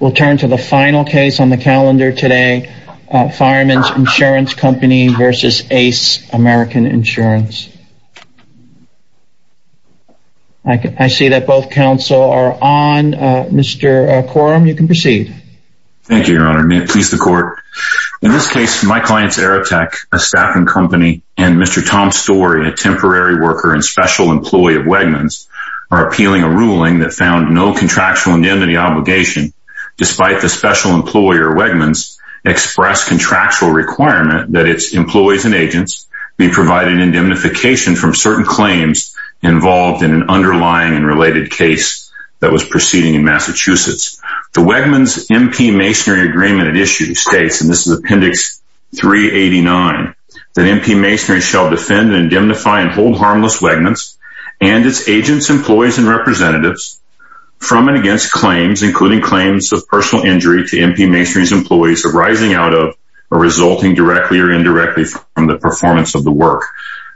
We'll turn to the final case on the calendar today. Fireman's Insurance Company versus Ace American Insurance. I see that both counsel are on. Mr. Quorum, you can proceed. Thank you, Your Honor. May it please the Court. In this case, my client's Aerotech, a staffing company, and Mr. Tom Storey, a temporary worker and special employee of Wegman's, are appealing a ruling that found no contractual indemnity obligation, despite the special employer, Wegman's, expressed contractual requirement that its employees and agents be provided indemnification from certain claims involved in an underlying and related case that was proceeding in Massachusetts. The Wegman's MP Masonry Agreement at issue states, and this is Appendix 389, that MP Masonry shall defend and indemnify and hold harmless Wegman's and its agents, employees, and representatives from and against claims, including claims of personal injury to MP Masonry's employees, arising out of or resulting directly or indirectly from the performance of the work.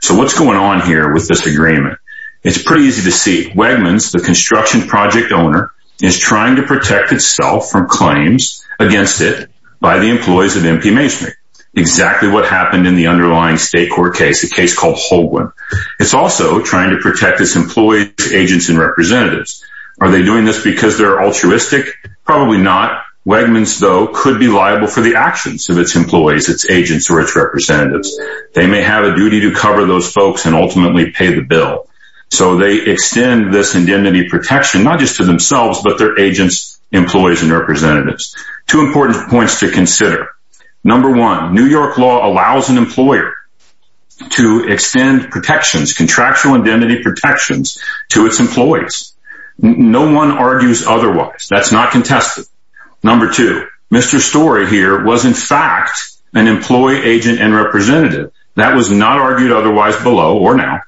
So what's going on here with this agreement? It's pretty easy to see. Wegman's, the construction project owner, is trying to protect itself from claims against it by the employees of MP Masonry. Exactly what happened in the underlying state court case, a case called Holguin. It's also trying to protect its employees, agents, and representatives. Are they doing this because they're altruistic? Probably not. Wegman's, though, could be liable for the actions of its employees, its agents, or its representatives. They may have a duty to cover those folks and ultimately pay the bill. So they extend this indemnity protection, not just to themselves, but their agents, employees, and representatives. Two important points to consider. Number one, New York law allows an employer to extend protections, contractual indemnity protections, to its employees. No one argues otherwise. That's not contested. Number two, Mr. Story here was, in fact, an employee, agent, and representative. That was not argued otherwise below or now.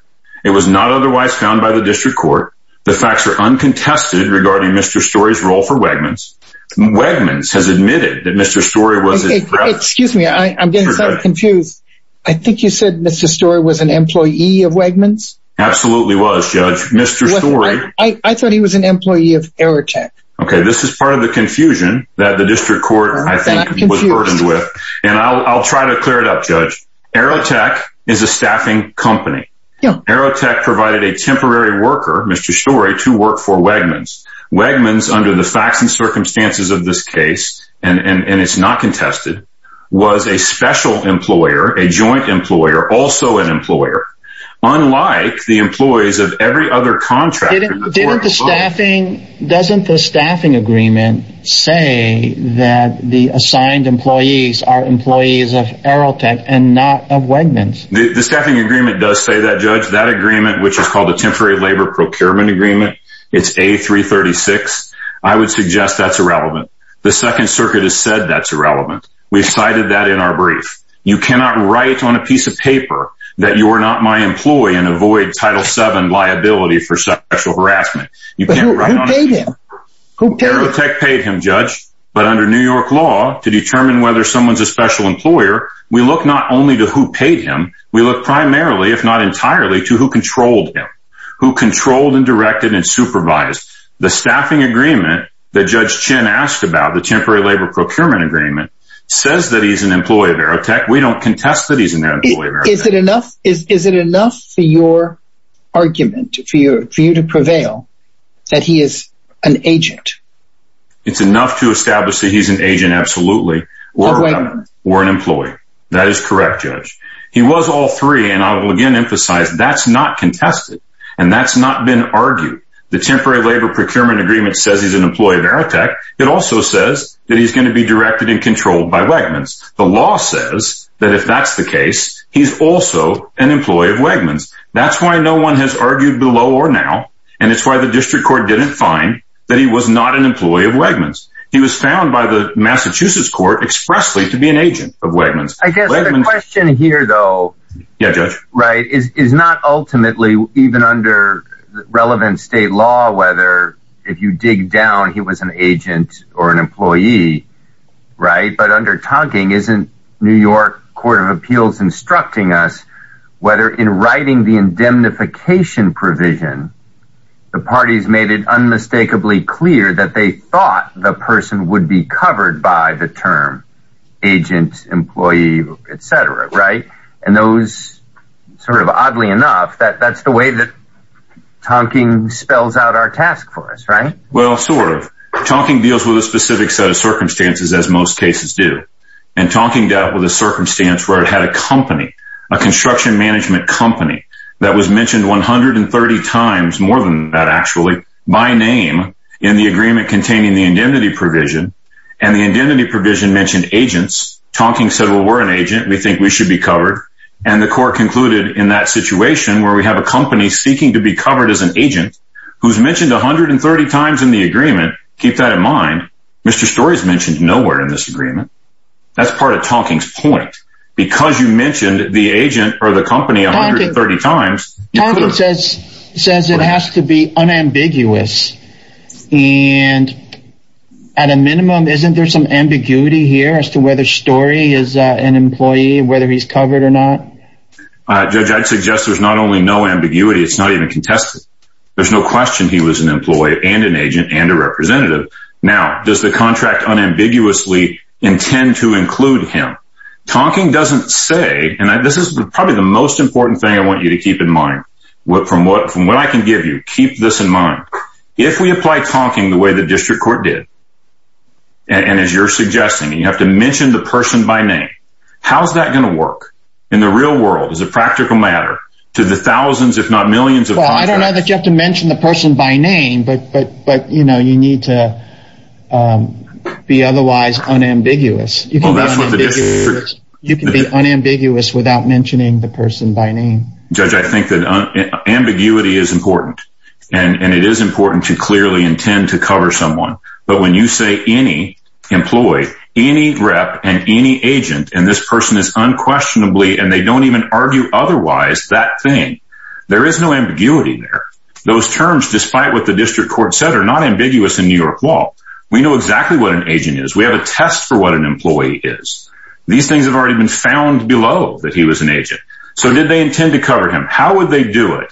It was not otherwise found by the district court. The facts are uncontested regarding Mr. Story's role for Wegman's. Wegman's has admitted that Mr. Story was- Excuse me, I'm getting confused. I think you said Mr. Story was an employee of Wegman's? Absolutely was, Judge. Mr. Story- I thought he was an employee of Aerotech. Okay, this is part of the confusion that the district court, I think, was burdened with. And I'll try to clear it up, Judge. Aerotech is a staffing company. Aerotech provided a temporary worker, Mr. Story, to work for Wegman's. Wegman's, under the facts and circumstances of this case, and it's not contested, was a special employer, a joint employer, also an employer. Unlike the employees of every other contractor- Didn't the staffing- Doesn't the staffing agreement say that the assigned employees are employees of Aerotech and not of Wegman's? The staffing agreement does say that, Judge. That agreement, which is called the Temporary Labor Procurement Agreement, it's A336. I would suggest that's irrelevant. The Second Circuit has said that's irrelevant. We've cited that in our brief. You cannot write on a piece of paper that you are not my employee and avoid Title VII liability for sexual harassment. But who paid him? Who paid him? Aerotech paid him, Judge. But under New York law, to determine whether someone's a special employer, we look not only to who paid him, we look primarily, if not entirely, to who controlled him, who controlled and directed and supervised. The staffing agreement that Judge Chin asked about, the Temporary Labor Procurement Agreement, says that he's an employee of Aerotech. We don't contest that he's an employee. Is it enough for your argument, for you to prevail, that he is an agent? It's enough to establish that he's an agent, absolutely, or an employee. That is correct, Judge. He was all three. And I will again emphasize that's not contested. And that's not been argued. The Temporary Labor Procurement Agreement says he's an employee of Aerotech. It also says that he's going to be directed and controlled by Wegmans. The law says that if that's the case, he's also an employee of Wegmans. That's why no one has argued below or now. And why the district court didn't find that he was not an employee of Wegmans. He was found by the Massachusetts court expressly to be an agent of Wegmans. I guess the question here, though, yeah, Judge, right, is not ultimately even under relevant state law, whether if you dig down, he was an agent or an employee. Right. But under Tonkin, isn't New York Court of Appeals instructing us whether in writing the indemnification provision, the parties made it unmistakably clear that they thought the person would be covered by the term, agent, employee, etc. Right. And those sort of oddly enough, that that's the way that Tonkin spells out our task for us, right? Well, sort of. Tonkin deals with a specific set of circumstances, as most cases do. And Tonkin dealt with a circumstance where it had a company, a construction management company, that was mentioned 130 times more than that, actually, by name in the agreement containing the indemnity provision. And the indemnity provision mentioned agents, Tonkin said, well, we're an agent, we think we should be covered. And the court concluded in that situation where we have a company seeking to be covered as an agent, who's mentioned 130 times in the That's part of Tonkin's point. Because you mentioned the agent or the company 130 times. Tonkin says, says it has to be unambiguous. And at a minimum, isn't there some ambiguity here as to whether Story is an employee, whether he's covered or not? Judge, I'd suggest there's not only no ambiguity, it's not even contested. There's no question he was an employee and an agent and a representative. Now, does the contract unambiguously intend to include him? Tonkin doesn't say and this is probably the most important thing I want you to keep in mind. What from what from what I can give you keep this in mind. If we apply talking the way the district court did. And as you're suggesting, you have to mention the person by name. How's that going to work? In the real world is a practical matter to the thousands, if not millions of I don't know that you have to mention the person by name but but but you know, you need to be otherwise unambiguous. You can be unambiguous without mentioning the person by name. Judge, I think that ambiguity is important. And it is important to clearly intend to cover someone. But when you say any employee, any rep and any agent and this person is unquestionably and they don't even argue otherwise that thing, there is no fight with the district court center not ambiguous in New York law. We know exactly what an agent is we have a test for what an employee is. These things have already been found below that he was an agent. So did they intend to cover him? How would they do it?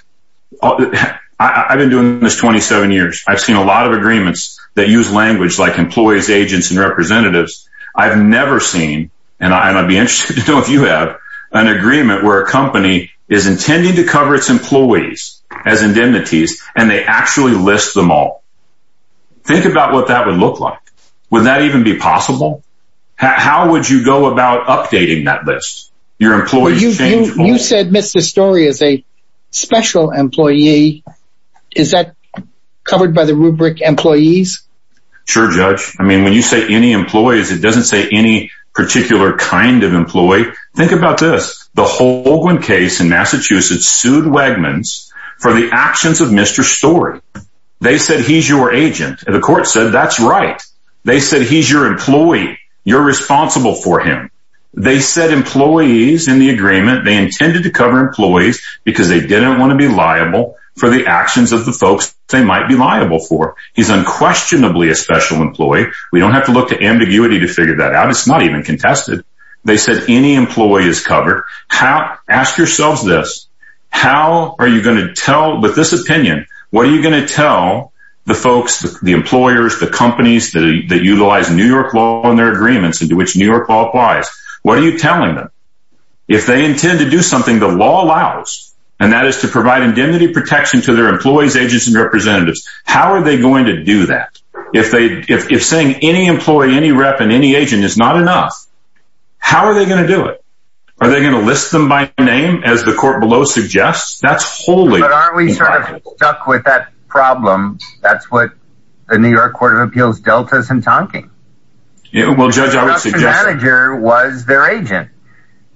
I've been doing this 27 years, I've seen a lot of agreements that use language like employees, agents and representatives. I've never seen and I'd be interested to know if you have an agreement where a company is actually list them all. Think about what that would look like. Would that even be possible? How would you go about updating that list? Your employees? You said Mr. Story is a special employee. Is that covered by the rubric employees? Sure, judge. I mean, when you say any employees, it doesn't say any particular kind of employee. Think about this. The Holguin case in Massachusetts sued Wegmans for the actions of Mr. Story. They said he's your agent and the court said that's right. They said he's your employee. You're responsible for him. They said employees in the agreement, they intended to cover employees because they didn't want to be liable for the actions of the folks they might be liable for. He's unquestionably a special employee. We don't have to look to ambiguity to figure that out. It's not even contested. They said any employee is covered. Ask yourselves this. How are you going to tell with this opinion? What are you going to tell the folks, the employers, the companies that utilize New York law and their agreements into which New York law applies? What are you telling them? If they intend to do something the law allows, and that is to provide indemnity protection to their employees, agents, and representatives, how are they going to do that? If saying any employee, any rep, and any agent is not enough, how are they going to do it? Are they going to list them by name as the court below suggests? That's wholly... But aren't we sort of stuck with that problem? That's what the New York Court of Appeals dealt us in talking. Well, Judge, I would suggest... The manager was their agent.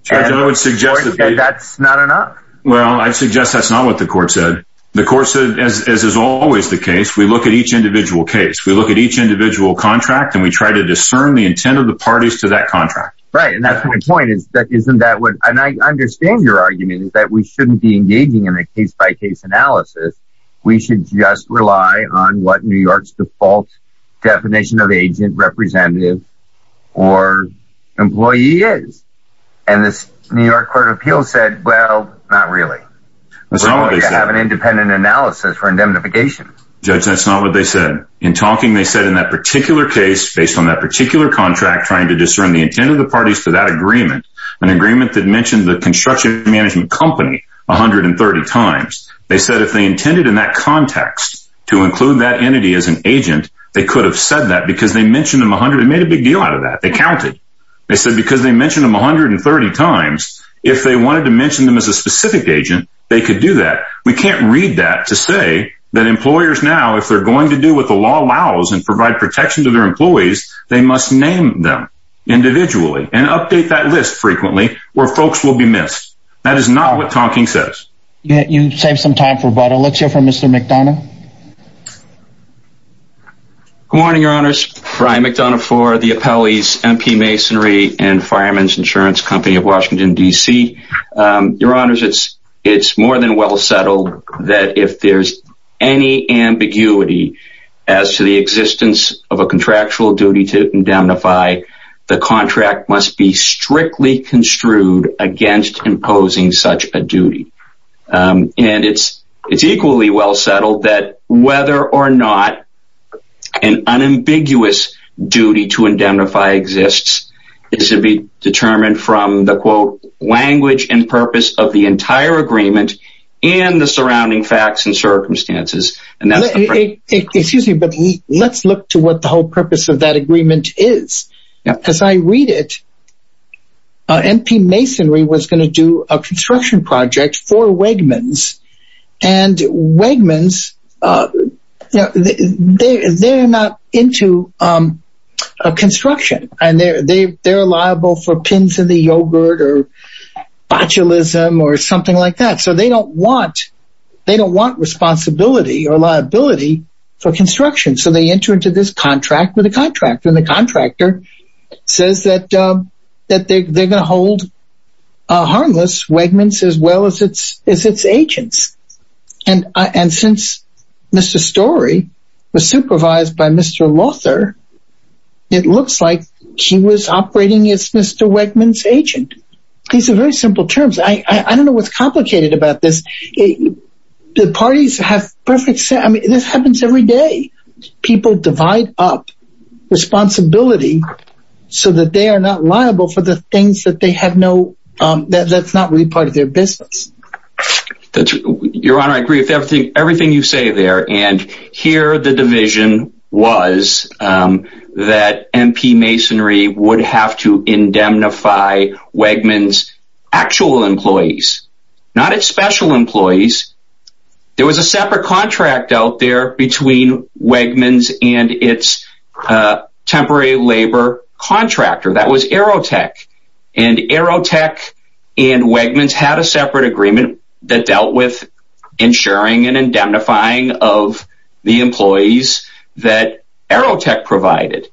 That's not enough. Well, I suggest that's not what the court said. The court said, as is always the case, we look at each individual case, we look at each individual contract, and we try to discern the intent of the parties to that contract. Right. And that's my point is that isn't that what... And I understand your argument is that we shouldn't be engaging in a case by case analysis. We should just rely on what New York's default definition of agent, representative, or employee is. And this New York Court of Appeals said, well, not really. We're going to have an independent analysis for indemnification. Judge, that's not what they said. In talking, they said in that particular case, based on that particular contract, trying to discern the intent of the parties to that agreement, an agreement that mentioned the construction management company 130 times. They said if they intended in that context to include that entity as an agent, they could have said that because they mentioned them 100... They made a big deal out of that. They counted. They said because they mentioned them 130 times, if they wanted to mention them as a specific agent, they could do that. We can't read that to say that employers now, if they're going to do what the law allows and provide protection to their employees, they must name them individually and update that list frequently where folks will be missed. That is not what Tonkin says. You saved some time for but let's hear from Mr. McDonough. Good morning, Your Honors. Brian McDonough for the Appellee's MP Masonry and Fireman's Insurance Company of Washington, DC. Your Honors, it's more than well settled that if there's any ambiguity as to the existence of a contractual duty to indemnify, the contract must be strictly construed against imposing such a duty. And it's equally well settled that whether or not an unambiguous duty to indemnify exists is to be determined from the quote, language and purpose of the entire agreement and the surrounding facts and circumstances. Excuse me, but let's look to what the whole purpose of that agreement is. As I read it, MP Masonry was going to do a construction project for Wegmans. And Wegmans, they're not into construction, and they're liable for pins in the yogurt or botulism or something like that. So they don't want responsibility or liability for construction. So they enter into this contract with a contractor and the contractor says that they're going to hold a harmless Wegmans as well as its agents. And since Mr. Story was supervised by Mr. Lothar, it looks like he was operating as Mr. Wegmans' agent. These are very simple terms. I don't know what's complicated about this. The parties have perfect sense. I mean, this happens every day. People divide up responsibility so that they are not liable for the things that they have no, that's not really part of their business. Your Honor, I agree with everything you say there. And here the division was that MP Masonry would have to indemnify Wegmans' actual employees, not its special employees. There was a separate contract out there between Wegmans and its temporary labor contractor that was Aerotech. And Aerotech and Wegmans had a separate agreement that dealt with ensuring and indemnifying of the employees that Aerotech provided.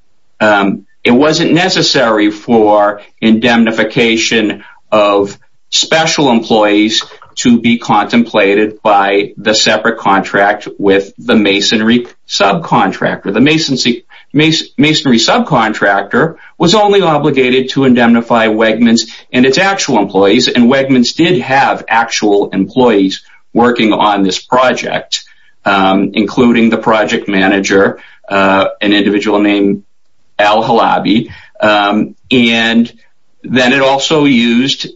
It wasn't necessary for indemnification of special employees to be contemplated by the separate contract with the Masonry subcontractor. The Masonry subcontractor was only obligated to indemnify Wegmans and its actual employees. And Wegmans did have actual employees working on this project, including the project manager, an individual named Al Halabi. And then it also used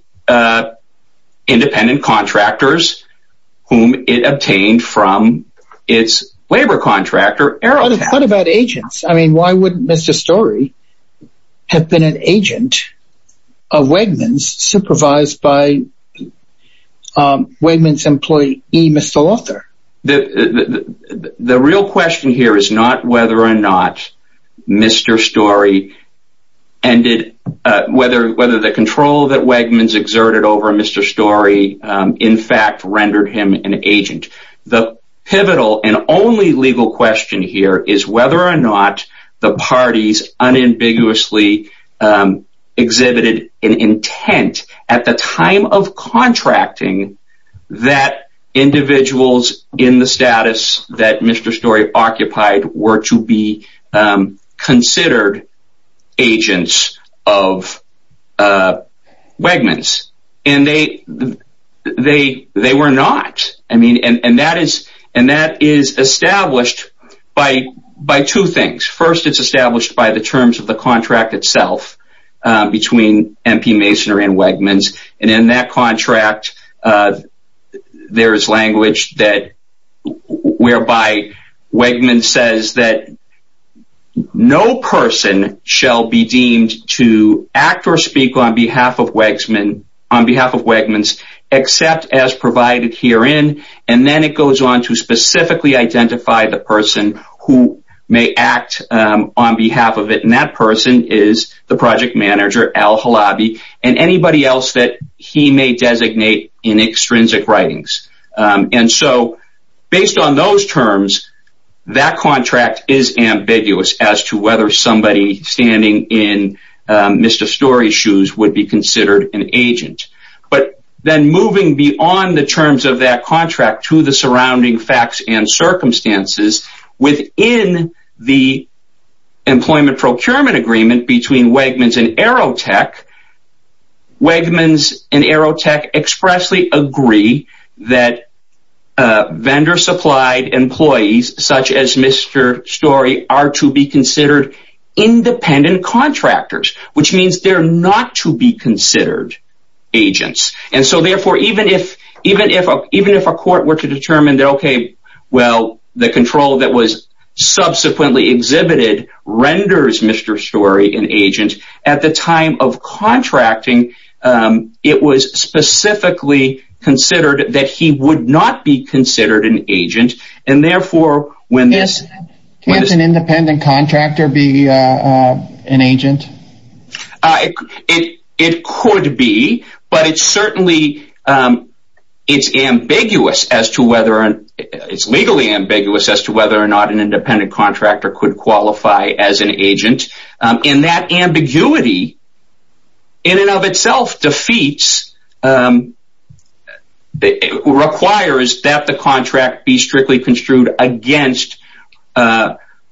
independent contractors whom it obtained from its labor contractor, Aerotech. What about agents? I mean, why would Mr. Story have been an agent of Wegmans supervised by Wegmans' employee, Mr. Lothar? The real question here is not whether or not Mr. Story ended, whether whether the control that Wegmans exerted over Mr. Story, in fact rendered him an agent. The pivotal and only legal question here is whether or not the parties unambiguously exhibited an intent at the time of contracting that individuals in the status that Mr. Story occupied were to be considered agents of Wegmans. And they were not. And that is established by two things. First, it's established by the terms of the contract itself between MP Masonry and Wegmans. And in that contract, there is language that whereby Wegmans says that no person shall be deemed to act or speak on behalf of Wegmans except as provided herein. And then it goes on to specifically identify the person who may act on behalf of it. And that person is the project may designate in extrinsic writings. And so based on those terms, that contract is ambiguous as to whether somebody standing in Mr. Story shoes would be considered an agent. But then moving beyond the terms of that contract to the surrounding facts and circumstances within the employment procurement agreement between Wegmans and Aerotech. Wegmans and Aerotech expressly agree that vendor supplied employees such as Mr. Story are to be considered independent contractors, which means they're not to be considered agents. And so therefore, even if a court were to an agent, at the time of contracting, it was specifically considered that he would not be considered an agent. And therefore, when there's an independent contractor be an agent, it could be, but it's certainly it's ambiguous as to whether it's legally ambiguous as to whether or not an agent. And that ambiguity in and of itself defeats, requires that the contract be strictly construed against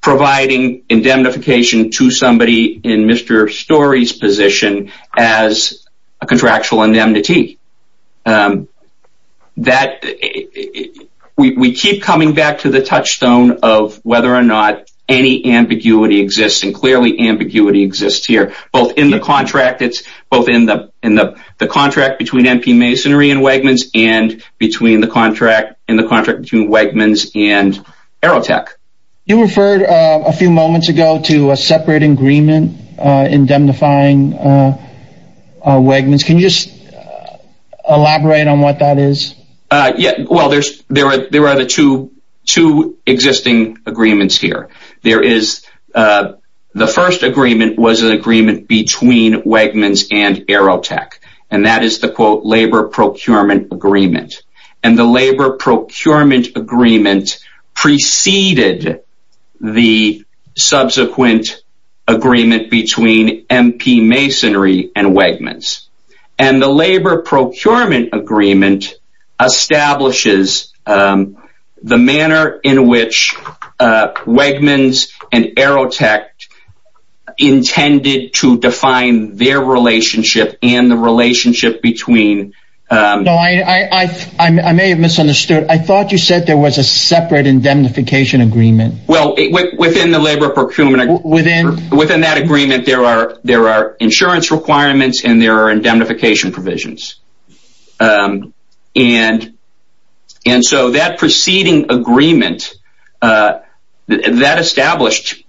providing indemnification to somebody in Mr. Story's position as a contractual indemnity. That we keep coming back to the ambiguity exists here, both in the contract, it's both in the in the contract between MP Masonry and Wegmans and between the contract in the contract between Wegmans and Aerotech. You referred a few moments ago to a separate agreement indemnifying Wegmans. Can you just elaborate on what that is? Yeah, well, there's there are there are the two, two existing agreements here. There is the first agreement was an agreement between Wegmans and Aerotech. And that is the quote labor procurement agreement. And the labor procurement agreement preceded the subsequent agreement between MP Masonry and Wegmans. And the labor procurement agreement establishes the manner in which Wegmans and Aerotech intended to define their relationship and the relationship between. I may have misunderstood. I thought you said there was a separate indemnification agreement. Well, within the labor procurement within within that agreement, there are there are insurance requirements and there are indemnification provisions. And, and so that preceding agreement that established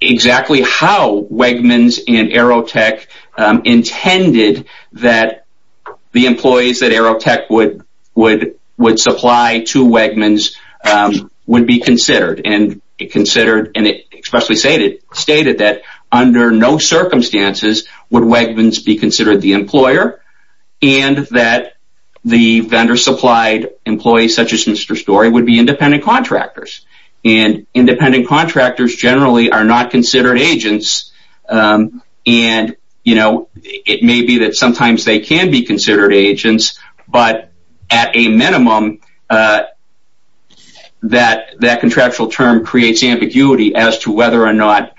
exactly how Wegmans and Aerotech intended that the employees that Aerotech would would would supply to Wegmans would be considered and considered and expressly stated stated that under no circumstances would Wegmans be considered the employer and that the vendor supplied employees such as Mr. Story would be independent contractors. And independent contractors generally are not considered agents. And, you know, it may be that sometimes they can be considered agents, but at a minimum that that contractual term creates ambiguity as to whether or not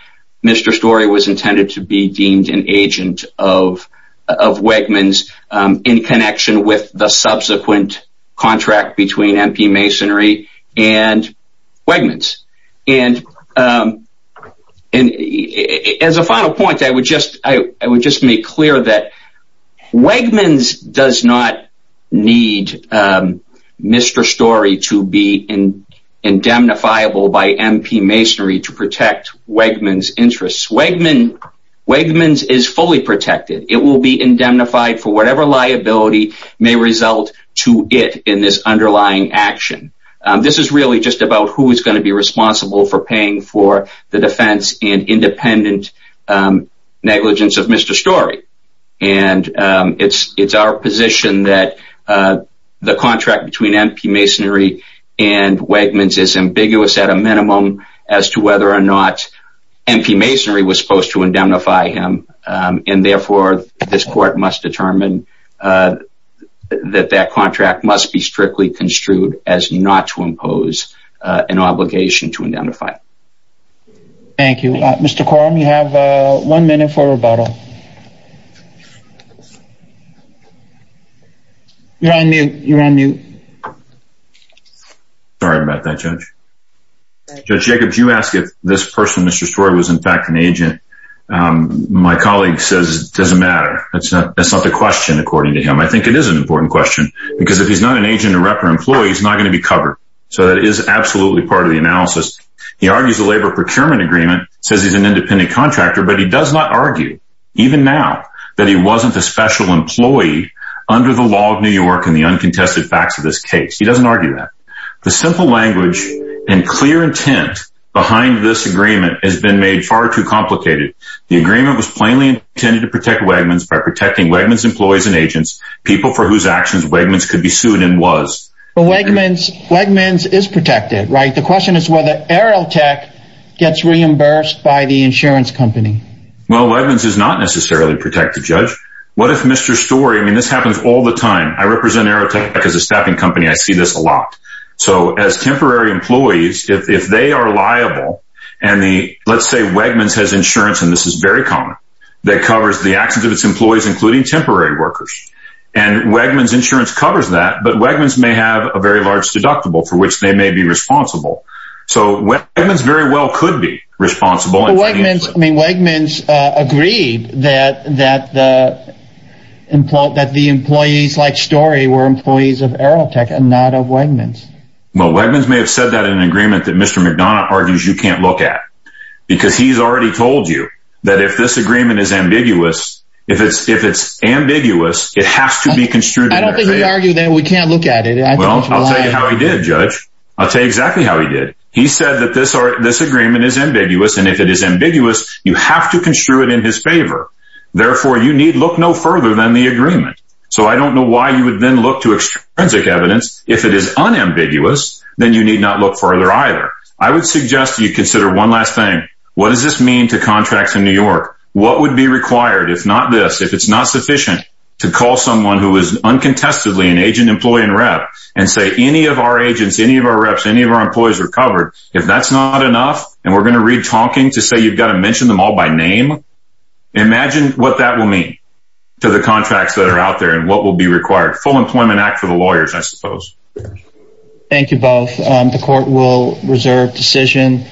Mr. Story was intended to be deemed an agent of Wegmans in connection with the subsequent contract between MP Masonry and Wegmans. And as a final point, I would just I would just make clear that Wegmans does not need Mr. Story to be indemnifiable by MP Masonry to protect Wegmans interests. Wegmans is fully protected. It will be indemnified for whatever liability may result to it in this underlying action. This is really just about who is going to be responsible for paying for the defense and independent negligence of Mr. Story. And it's it's our position that the contract between MP Masonry and Wegmans is ambiguous at a minimum as to whether or not MP Masonry was supposed to indemnify him. And therefore, this court must determine that that contract must be strictly construed as not to impose an obligation to indemnify. Thank you. Mr. Quorum, you have one minute for rebuttal. You're on mute. You're on mute. Sorry about that, Judge. Judge Jacobs, you ask if this person, Mr. Story, was in fact an agent. My colleague says it doesn't matter. That's not the question, according to him. I think it is an important question. Because if he's not an agent or rep or employee, he's not going to be covered. So that is absolutely part of the analysis. He argues the labor procurement agreement says he's an independent contractor, but he does not even now that he wasn't a special employee under the law of New York and the uncontested facts of this case. He doesn't argue that. The simple language and clear intent behind this agreement has been made far too complicated. The agreement was plainly intended to protect Wegmans by protecting Wegmans employees and agents, people for whose actions Wegmans could be sued and was. But Wegmans is protected, right? The question is whether Aerotech gets reimbursed by the insurance company. Well, Wegmans is not necessarily protected, Judge. What if Mr. Story, I mean, this happens all the time. I represent Aerotech as a staffing company. I see this a lot. So as temporary employees, if they are liable, and the let's say Wegmans has insurance, and this is very common, that covers the actions of its employees, including temporary workers. And Wegmans insurance covers that. But Wegmans may have a very large deductible for which they may be responsible. So Wegmans very well could be responsible. I mean, Wegmans agreed that that that the employees like Story were employees of Aerotech and not of Wegmans. Well, Wegmans may have said that in an agreement that Mr. McDonough argues you can't look at. Because he's already told you that if this agreement is ambiguous, if it's if it's ambiguous, it has to be construed. I don't think he argued that we can't look at it. I'll tell you how he did, Judge. I'll tell you exactly how he did. He said that this are this agreement is ambiguous. And if it is ambiguous, you have to construe it in his favor. Therefore, you need look no further than the agreement. So I don't know why you would then look to extrinsic evidence. If it is unambiguous, then you need not look further either. I would suggest you consider one last thing. What does this mean to contracts in New York? What would be required if not this if it's not sufficient to call someone who is uncontestedly agent, employee and rep and say any of our agents, any of our reps, any of our employees are covered? If that's not enough, and we're going to read talking to say you've got to mention them all by name. Imagine what that will mean to the contracts that are out there and what will be required. Full Employment Act for the lawyers, I suppose. Thank you both. The court will reserve decision.